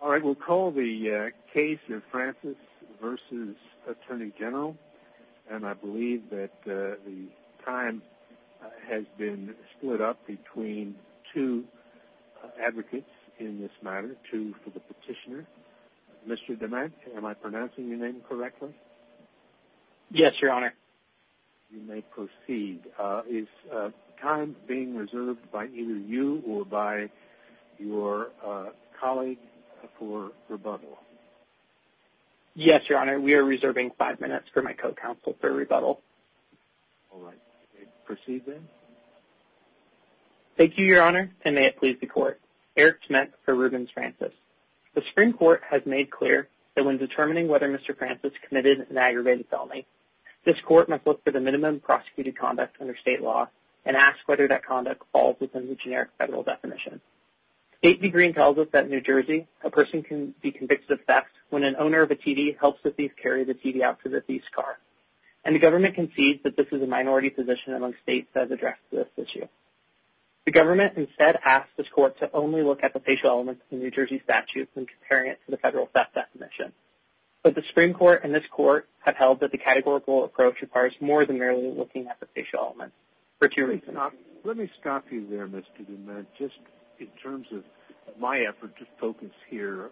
We'll call the case of Francis v. Atty Gen USA and I believe that the time has been split up between two advocates in this matter, two for the petitioner. Mr. DeMant, am I pronouncing your name correctly? Yes, Your Honor. You may proceed. Is time being reserved by either you or by your colleague for rebuttal? Yes, Your Honor. We are reserving five minutes for my co-counsel for rebuttal. All right. Proceed then. Thank you, Your Honor, and may it please the Court. Eric Schmidt v. Rubens Francis The Supreme Court has made clear that when determining whether Mr. Francis committed an aggravated felony, this Court must look for the minimum prosecuted conduct under state law and ask whether that conduct falls within the generic federal definition. State v. Green tells us that in New Jersey, a person can be convicted of theft when an owner of a TD helps the thief carry the TD out to the thief's car, and the government concedes that this is a minority position among states that has addressed this issue. The government instead asks this Court to only look at the facial elements of the New Jersey statute when comparing it to the federal theft definition. But the Supreme Court and this Court have held that the categorical approach requires more than merely looking at the facial elements for two reasons. Let me stop you there, Mr. Schmidt, just in terms of my effort to focus here.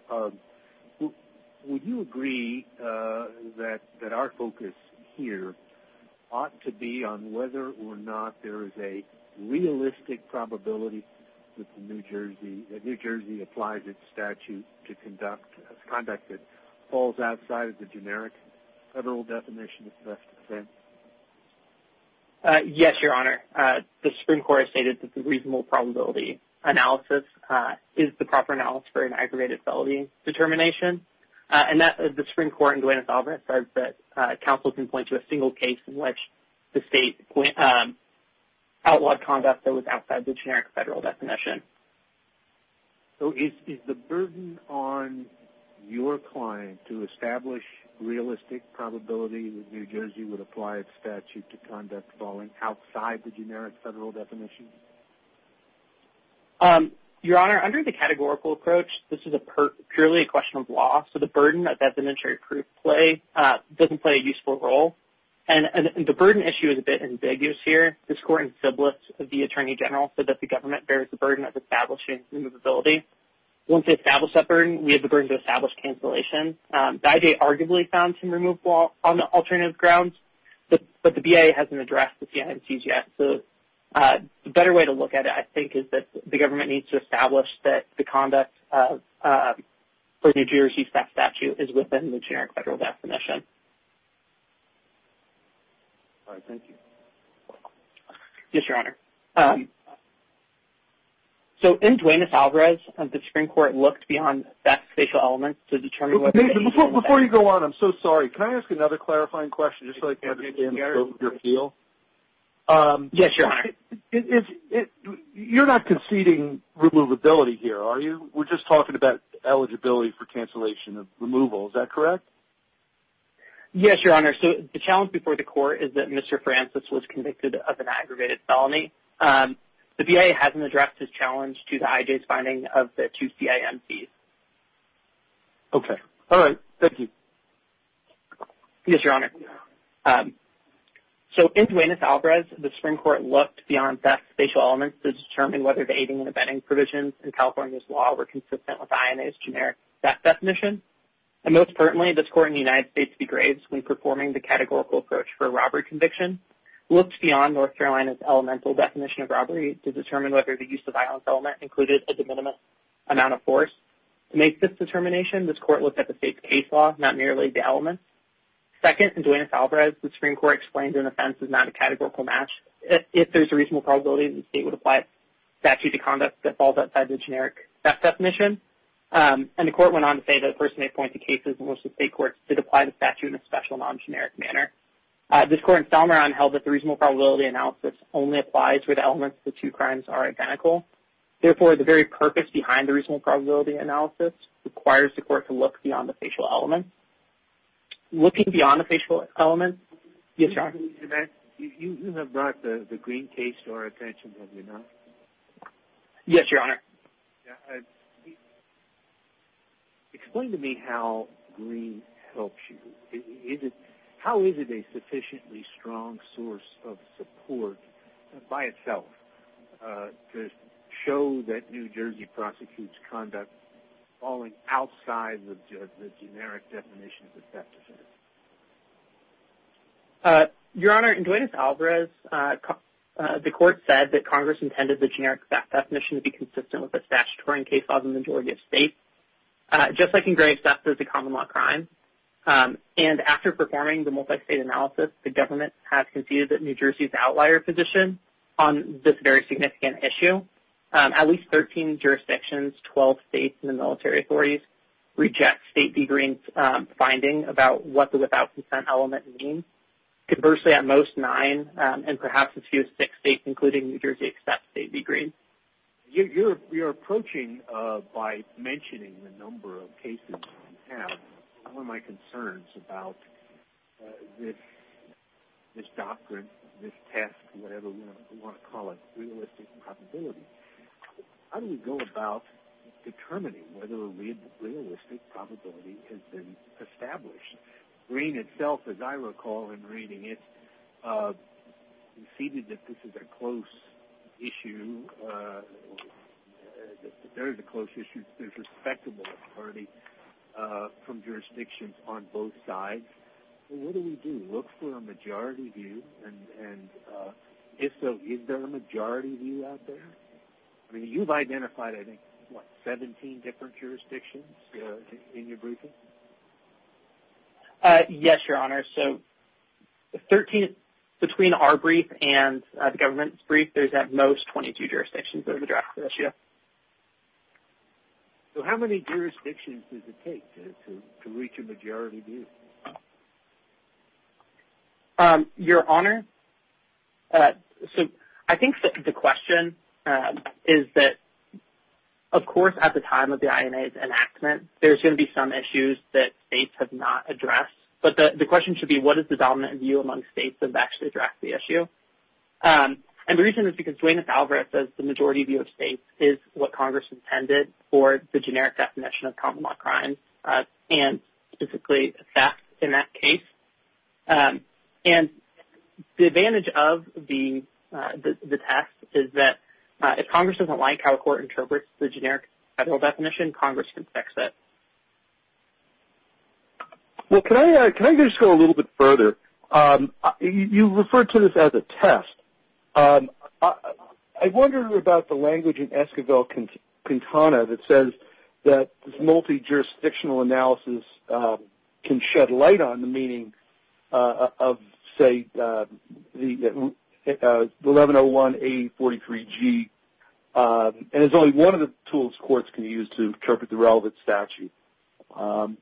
Would you agree that our focus here ought to be on whether or not there is a realistic probability that New Jersey applies its statute to conduct conduct that falls outside of the generic federal definition of theft offense? Yes, Your Honor. The Supreme Court has stated that the reasonable probability analysis is the proper analysis for an aggravated felony determination. The Supreme Court in Duenas-Albert says that counsel can point to a single case in which the state outlawed conduct that was outside the generic federal definition. So, is the burden on your client to establish realistic probability that New Jersey would apply its statute to conduct falling outside the generic federal definition? Your Honor, under the categorical approach, this is purely a question of law, so the burden of designatory proof doesn't play a useful role. The burden issue is a bit ambiguous here. This Court in Sybilis of the Attorney General said that the government bears the burden of establishing removability. Once they establish that burden, we have the burden to establish cancellation. Byday arguably found some removal on the alternative grounds, but the BIA hasn't addressed the CNMC's yet. The better way to look at it, I think, is that the government needs to establish that the conduct for New Jersey's theft statute is within the generic federal definition. Yes, Your Honor. So, in Duenas-Alvarez, the Supreme Court looked beyond theft and facial elements to determine whether... Before you go on, I'm so sorry. Can I ask another clarifying question just so I can understand your appeal? Yes, Your Honor. You're not conceding removability here, are you? We're just talking about eligibility for cancellation of removal, is that correct? Yes, Your Honor. So, the challenge before the Court is that Mr. Francis was convicted of an aggravated felony. The BIA hasn't addressed this challenge due to IJ's finding of the two CNMC's. Okay. All right. Thank you. Yes, Your Honor. So, in Duenas-Alvarez, the Supreme Court looked beyond theft and facial elements to determine whether the aiding and abetting provisions in California's law were consistent with INA's generic theft definition. And, most importantly, this Court in the United States degrades when performing the categorical approach for a robbery conviction, looked beyond North Carolina's elemental definition of robbery to determine whether the use of violence element included a de minimis amount of force. To make this determination, this Court looked at the state's case law, not merely the elements. Second, in Duenas-Alvarez, the Supreme Court explained that an offense is not a categorical match. If there's a reasonable probability that the state would apply a statute of conduct that falls outside the generic theft definition. And the Court went on to say that a person may point to cases in which the state courts did apply the statute in a special, non-generic manner. This Court in Salmoron held that the reasonable probability analysis only applies where the elements of the two crimes are identical. Therefore, the very purpose behind the reasonable probability analysis requires the Court to look beyond the facial elements. Looking beyond the facial elements? Yes, Your Honor. You have brought the Greene case to our attention, have you not? Yes, Your Honor. Explain to me how Greene helps you. How is it a sufficiently strong source of support, by itself, to show that New Jersey prosecutes conduct falling outside the generic definition of the theft definition? Your Honor, in Duenas-Alvarez, the Court said that Congress intended the generic theft definition to be consistent with the statutory case laws in the majority of states, just like in Greene, theft is a common law crime. And after performing the multi-state analysis, the government has conceded that New Jersey is the outlier position on this very significant issue. At least 13 jurisdictions, 12 states, and the military authorities reject State v. Greene's finding about what the without consent element means. Conversely, at most, nine, and perhaps a few six states, including New Jersey, accept State v. Greene. You're approaching, by mentioning the number of cases you have, one of my concerns about this doctrine, this test, whatever you want to call it, realistic probability. How do we go about determining whether a realistic probability has been established? Greene itself, as I recall in reading it, conceded that this is a close issue, that there is a close issue, there's respectable authority from jurisdictions on both sides. What do we do? Look for a majority view? And if so, is there a majority view out there? I mean, you've identified, I think, what, 17 different jurisdictions in your briefing? Yes, Your Honor, so 13, between our brief and the government's brief, there's at most 22 jurisdictions that have addressed this issue. So how many jurisdictions does it take to reach a majority view? Your Honor, so I think the question is that, of course, at the time of the INA's enactment, there's going to be some issues that states have not addressed. But the question should be, what is the dominant view among states that have actually addressed the issue? And the reason is because Dwayne Alvarez says the majority view of states is what Congress intended for the generic definition of common law crime, and specifically theft in that case. And the advantage of the test is that if Congress doesn't like how a court interprets the generic federal definition, Congress can fix it. Well, can I just go a little bit further? You referred to this as a test. I wonder about the language in Esquivel-Quintana that says that this multi-jurisdictional analysis can shed light on the meaning of, say, the 1101A43G, and it's only one of the tools courts can use to interpret the relevant statute.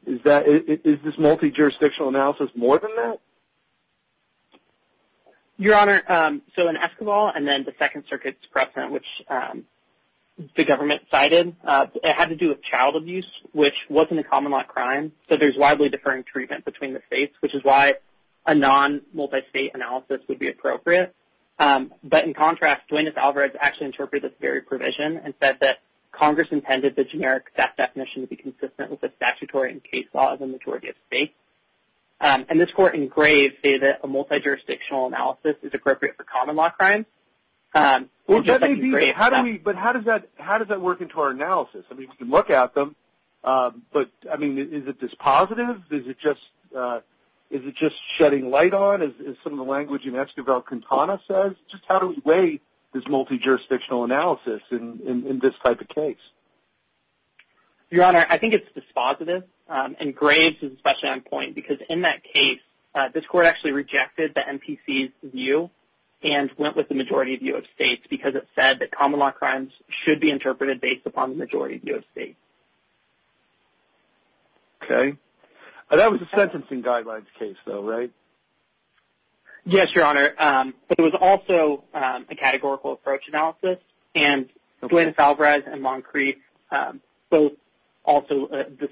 Is this multi-jurisdictional analysis more than that? Your Honor, so in Esquivel and then the Second Circuit's precedent, which the government cited, it had to do with child abuse, which wasn't a common law crime. So there's widely differing treatment between the states, which is why a non-multi-state analysis would be appropriate. But in contrast, Joannis Alvarez actually interpreted this very provision and said that Congress intended the generic theft definition to be consistent with the statutory and case laws in the majority of states. And this Court in Graves stated that a multi-jurisdictional analysis is appropriate for common law crimes. But how does that work into our analysis? We can look at them, but is it dispositive? Is it just shedding light on, as some of the language in Esquivel-Quintana says? Just how do we weigh this multi-jurisdictional analysis in this type of case? Your Honor, I think it's dispositive. And Graves is especially on point because in that case, this Court actually rejected the MPC's view and went with the majority view of states because it said that common law crimes should be interpreted based upon the majority view of states. Okay. That was a sentencing guidelines case though, right? Yes, Your Honor. But it was also a categorical approach analysis. And Joannis Alvarez and Long Crete, the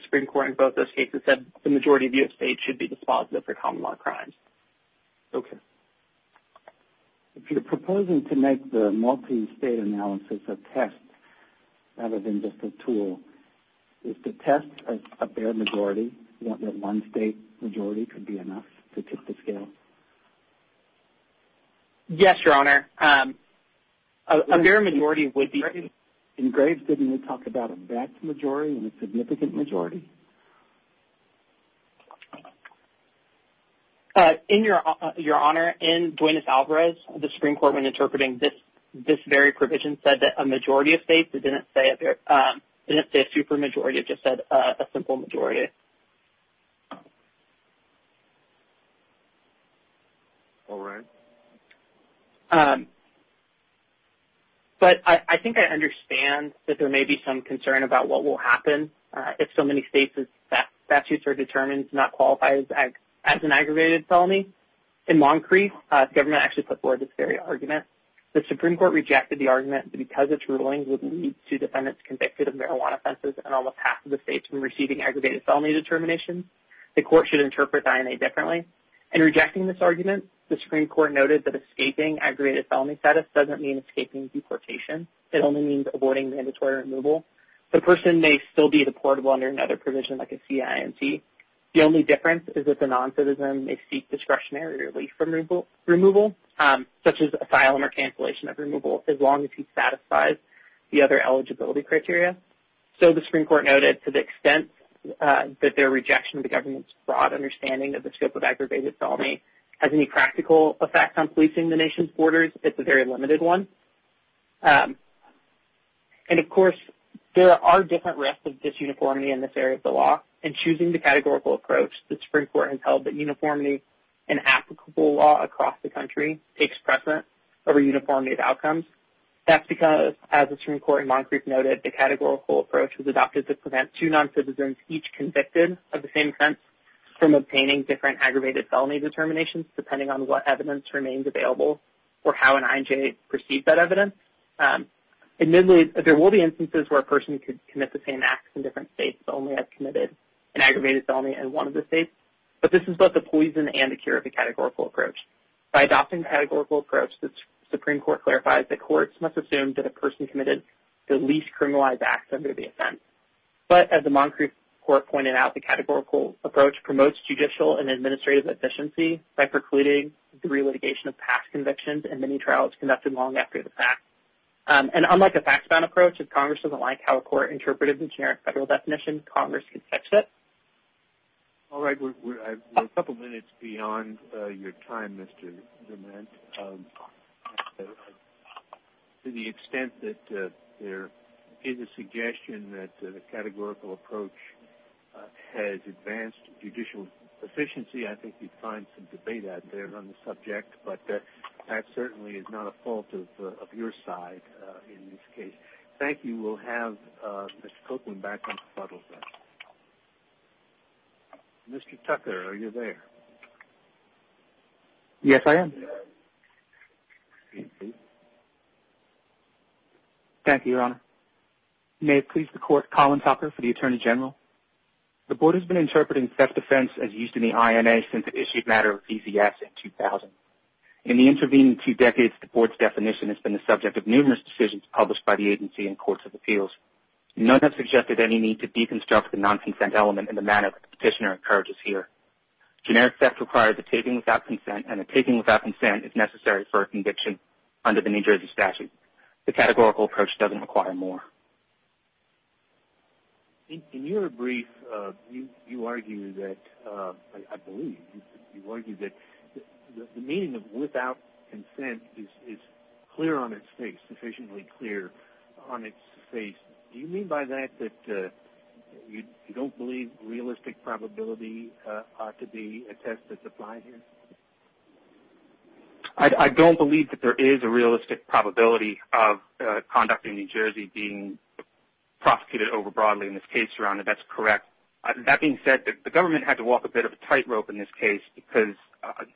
Supreme Court in both those cases, said the majority view of states should be dispositive for common law crimes. Okay. If you're proposing to make the multi-state analysis a test rather than just a tool, is the test a bare majority? One state majority could be enough to tip the scale? Yes, Your Honor. A bare majority would be... In Graves, didn't he talk about a vast majority and a significant majority? In Your Honor, in Joannis Alvarez, the Supreme Court, when interpreting this very provision, said that a majority of states. It didn't say a super majority. It just said a simple majority. All right. But I think I understand that there may be some concern about what will happen if so many states' statutes are determined to not qualify as an aggravated felony. In Long Crete, the government actually put forward this very argument. The Supreme Court rejected the argument because its rulings would lead to defendants convicted of marijuana offenses and almost half of the states from receiving aggravated felony determinations. The court should interpret the INA differently. In rejecting this argument, the Supreme Court noted that escaping aggravated felony status doesn't mean escaping deportation. It only means avoiding mandatory removal. The person may still be deportable under another provision like a CIMT. The only difference is that the non-citizen may seek discretionary relief from removal, such as asylum or cancellation of removal, as long as he satisfies the other eligibility criteria. So, the Supreme Court noted, to the extent that their rejection of the government's broad understanding of the scope of aggravated felony has any practical effect on policing the nation's borders, it's a very limited one. And, of course, there are different risks of disuniformity in this area of the law. In choosing the categorical approach, the Supreme Court has held that uniformity in applicable law across the country takes precedence over uniformity of outcomes. That's because, as the Supreme Court in Moncrief noted, the categorical approach was adopted to prevent two non-citizens, each convicted of the same offense, from obtaining different aggravated felony determinations, depending on what evidence remains available or how an INJ perceived that evidence. Admittedly, there will be instances where a person could commit the same acts in different states, but only have committed an aggravated felony in one of the states. But this is both a poison and a cure of the categorical approach. By adopting the categorical approach, the Supreme Court clarifies that courts must assume that a person committed the least criminalized acts under the offense. But, as the Moncrief Court pointed out, the categorical approach promotes judicial and administrative efficiency by precluding the relitigation of past convictions and many trials conducted long after the fact. And, unlike a fact-bound approach, if Congress doesn't like how a court interpreted the generic federal definition, Congress can fix it. All right. We're a couple minutes beyond your time, Mr. Dement. To the extent that there is a suggestion that the categorical approach has advanced judicial efficiency, I think you'd find some debate out there on the subject. But that certainly is not a fault of your side in this case. Thank you. We'll have Mr. Copeland back on the podium. Mr. Tucker, are you there? Yes, I am. Thank you, Your Honor. May it please the Court, Colin Tucker for the Attorney General. The Board has been interpreting theft offense as used in the INA since it issued a matter of EZS in 2000. In the intervening two decades, the Board's definition has been the subject of numerous decisions published by the agency and courts of appeals. None have suggested any need to deconstruct the non-consent element in the manner the Petitioner encourages here. Generic theft requires a taking without consent, and a taking without consent is necessary for a conviction under the New Jersey statute. The categorical approach doesn't require more. In your brief, you argue that, I believe, you argue that the meaning of without consent is clear on its face, sufficiently clear on its face. Do you mean by that that you don't believe realistic probability ought to be a test that's applied here? I don't believe that there is a realistic probability of conduct in New Jersey being prosecuted overbroadly in this case, Your Honor. That's correct. That being said, the government had to walk a bit of a tightrope in this case because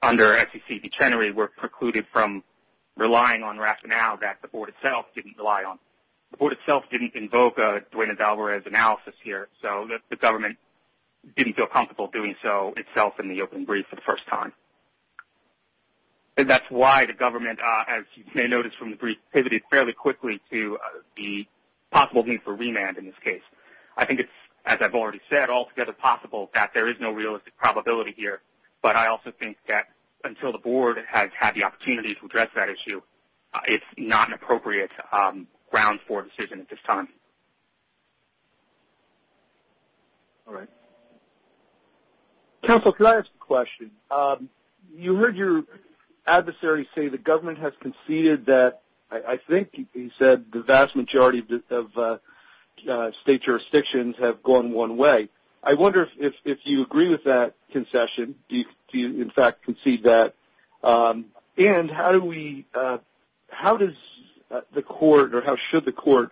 under SEC dictionary, we're precluded from relying on rationale that the Board itself didn't rely on. The Board itself didn't invoke a Duena-Valverez analysis here, so the government didn't feel comfortable doing so itself in the open brief for the first time. And that's why the government, as you may notice from the brief, pivoted fairly quickly to the possible need for remand in this case. I think it's, as I've already said, altogether possible that there is no realistic probability here, but I also think that until the Board has had the opportunity to address that issue, it's not an appropriate ground for a decision at this time. All right. Counsel, can I ask a question? You heard your adversary say the government has conceded that, I think he said, the vast majority of state jurisdictions have gone one way. I wonder if you agree with that concession. Do you, in fact, concede that? And how does the Court, or how should the Court,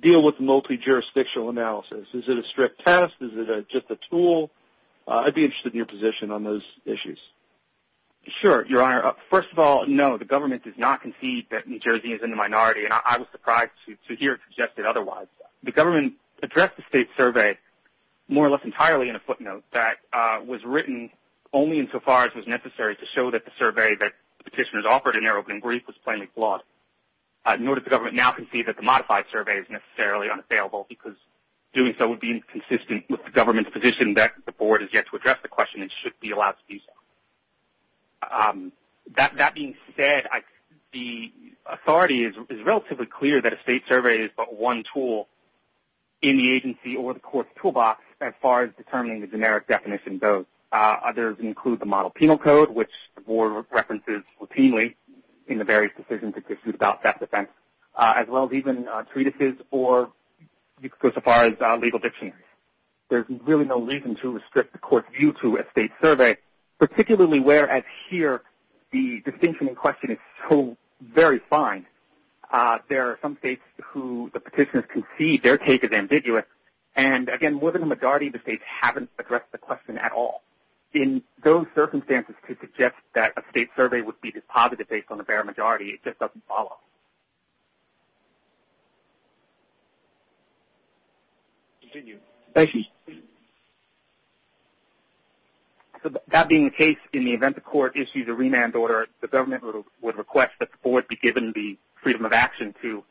deal with multi-jurisdictional analysis? Is it a strict test? Is it just a tool? I'd be interested in your position on those issues. Sure, Your Honor. First of all, no, the government does not concede that New Jersey is in the minority, and I was surprised to hear it suggested otherwise. The government addressed the state survey more or less entirely in a footnote that was written only insofar as was necessary to show that the survey that the petitioners offered in their opening brief was plainly flawed. Nor does the government now concede that the modified survey is necessarily unavailable because doing so would be inconsistent with the government's position that the Board has yet to address the question and should be allowed to do so. That being said, the authority is relatively clear that a state survey is but one tool in the agency or the Court's toolbox as far as determining the generic definition goes. Others include the Model Penal Code, which the Board references routinely in the various decisions it pursues about theft defense, as well as even treatises or you could go so far as legal dictionaries. There's really no reason to restrict the Court's view to a state survey, particularly whereas here the distinction in question is so very fine. There are some states who the petitioners concede their take is ambiguous, and again within the majority of the states haven't addressed the question at all. In those circumstances to suggest that a state survey would be deposited based on the bare majority just doesn't follow. That being the case, in the event the Court issues a remand order, the government would request that the Board be given the freedom of action to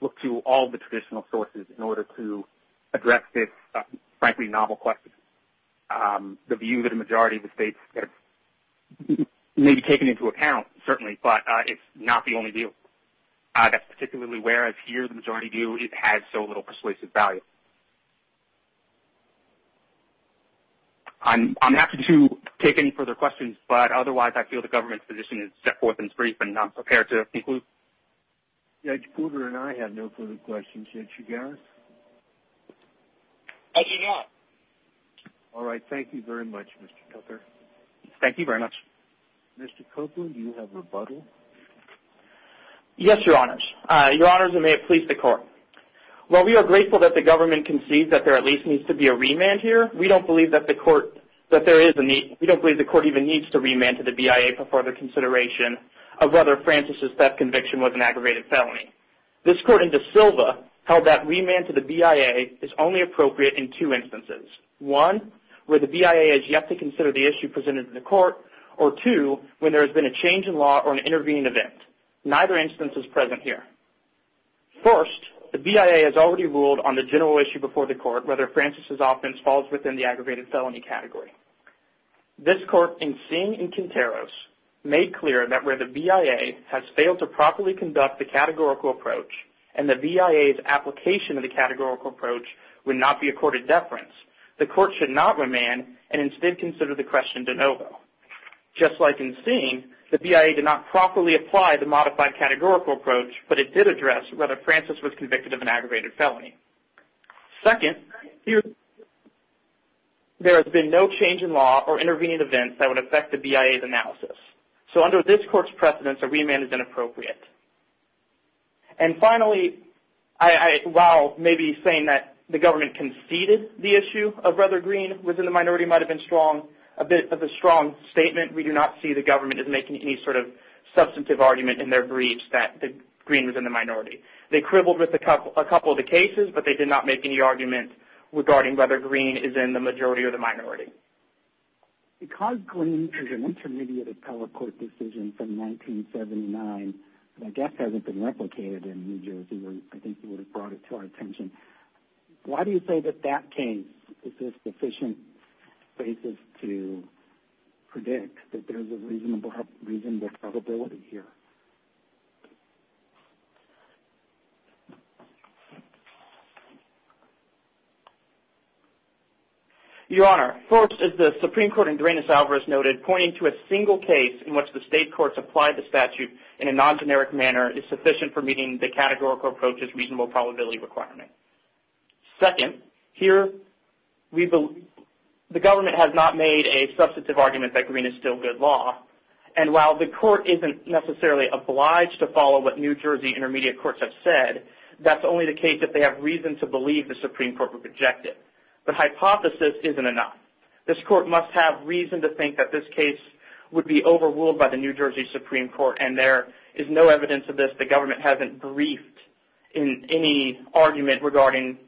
look to all the traditional sources in order to address this frankly novel question. The view that a majority of the states may be taking into account certainly, but it's not the only view. That's particularly whereas here the majority view it has so little persuasive value. I'm happy to take any further questions, but otherwise I feel the government's position is set forth and brief and I'm prepared to conclude. Judge Cooper and I have no further questions. Judge Chigaris? I do not. All right. Thank you very much, Mr. Cooper. Thank you very much. Mr. Copeland, do you have a rebuttal? Yes, Your Honors. Your Honors, and may it please the Court. While we are grateful that the government concedes that there at least needs to be a remand here, we don't believe that the Court even needs to remand to the BIA for further consideration of whether Francis's theft conviction was an aggravated felony. This Court in De Silva held that remand to the BIA is only appropriate in two instances. One, where the BIA has yet to consider the issue presented in the Court, or two, when there has been a change in law or an intervening event. Neither instance is present here. First, the BIA has already ruled on the general issue before the Court, whether Francis's offense falls within the aggravated felony category. This Court, in Singh and Quinteros, made clear that where the BIA has failed to properly conduct the categorical approach and the BIA's application of the categorical approach would not be accorded deference, the Court should not remand and instead consider the question de novo. Just like in Singh, the BIA did not properly apply the modified categorical approach, but it did address whether Francis was convicted of an aggravated felony. Second, there has been no change in law or intervening events that would affect the BIA's analysis. So under this Court's precedence, a remand is inappropriate. And finally, while maybe saying that the government conceded the issue of whether Green was in the minority might have been a bit of a strong statement, we do not see the government as making any sort of substantive argument in their briefs that Green was in the minority. They cribbled with a couple of the cases, but they did not make any argument regarding whether Green is in the majority or the minority. Because Green is an intermediate of color court decision from 1979, and I guess hasn't been replicated in New Jersey, I think you would have brought it to our attention. Why do you say that that case is a sufficient basis to predict that there's a reasonable probability here? Your Honor, first, as the Supreme Court in Duranis-Alvarez noted, pointing to a single case in which the state courts applied the statute in a non-generic manner is sufficient for meeting the categorical approach's reasonable probability requirement. Second, here the government has not made a substantive argument that Green is still good law, and while the court isn't necessarily obliged to follow what New Jersey intermediate courts have said, that's only the case that they have reason to believe the Supreme Court would reject it. The hypothesis isn't enough. This court must have reason to think that this case would be overruled by the New Jersey Supreme Court, and there is no evidence of this. The government hasn't briefed in any argument regarding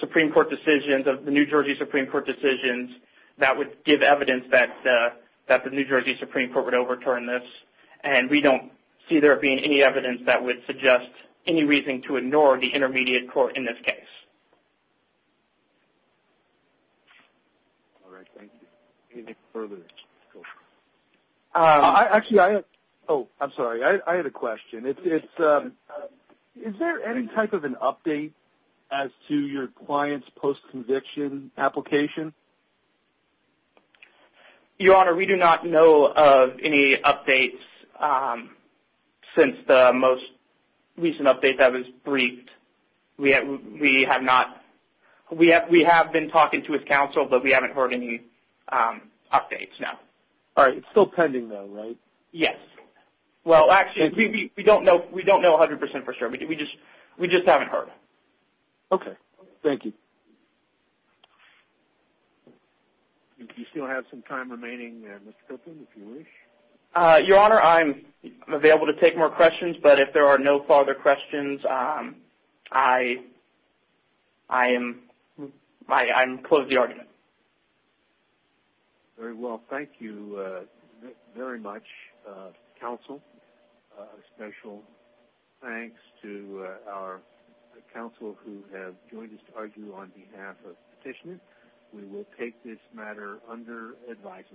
Supreme Court decisions, of the New Jersey Supreme Court decisions that would give evidence that the New Jersey Supreme Court would overturn this, and we don't see there being any evidence that would suggest any reason to ignore the intermediate court in this case. All right, thank you. Anything further? Actually, I have a question. Is there any type of an update as to your client's post-conviction application? Your Honor, we do not know of any updates since the most recent update that was briefed. We have been talking to his counsel, but we haven't heard any updates, no. All right, it's still pending though, right? Yes. Well, actually, we don't know 100% for sure. We just haven't heard. Okay, thank you. Do you still have some time remaining, Mr. Griffin, if you wish? Your Honor, I'm available to take more questions, but if there are no further questions, I'm closed to the argument. Very well. Thank you very much, counsel. A special thanks to our counsel who have joined us to argue on behalf of petitioners. We will take this matter under advisory.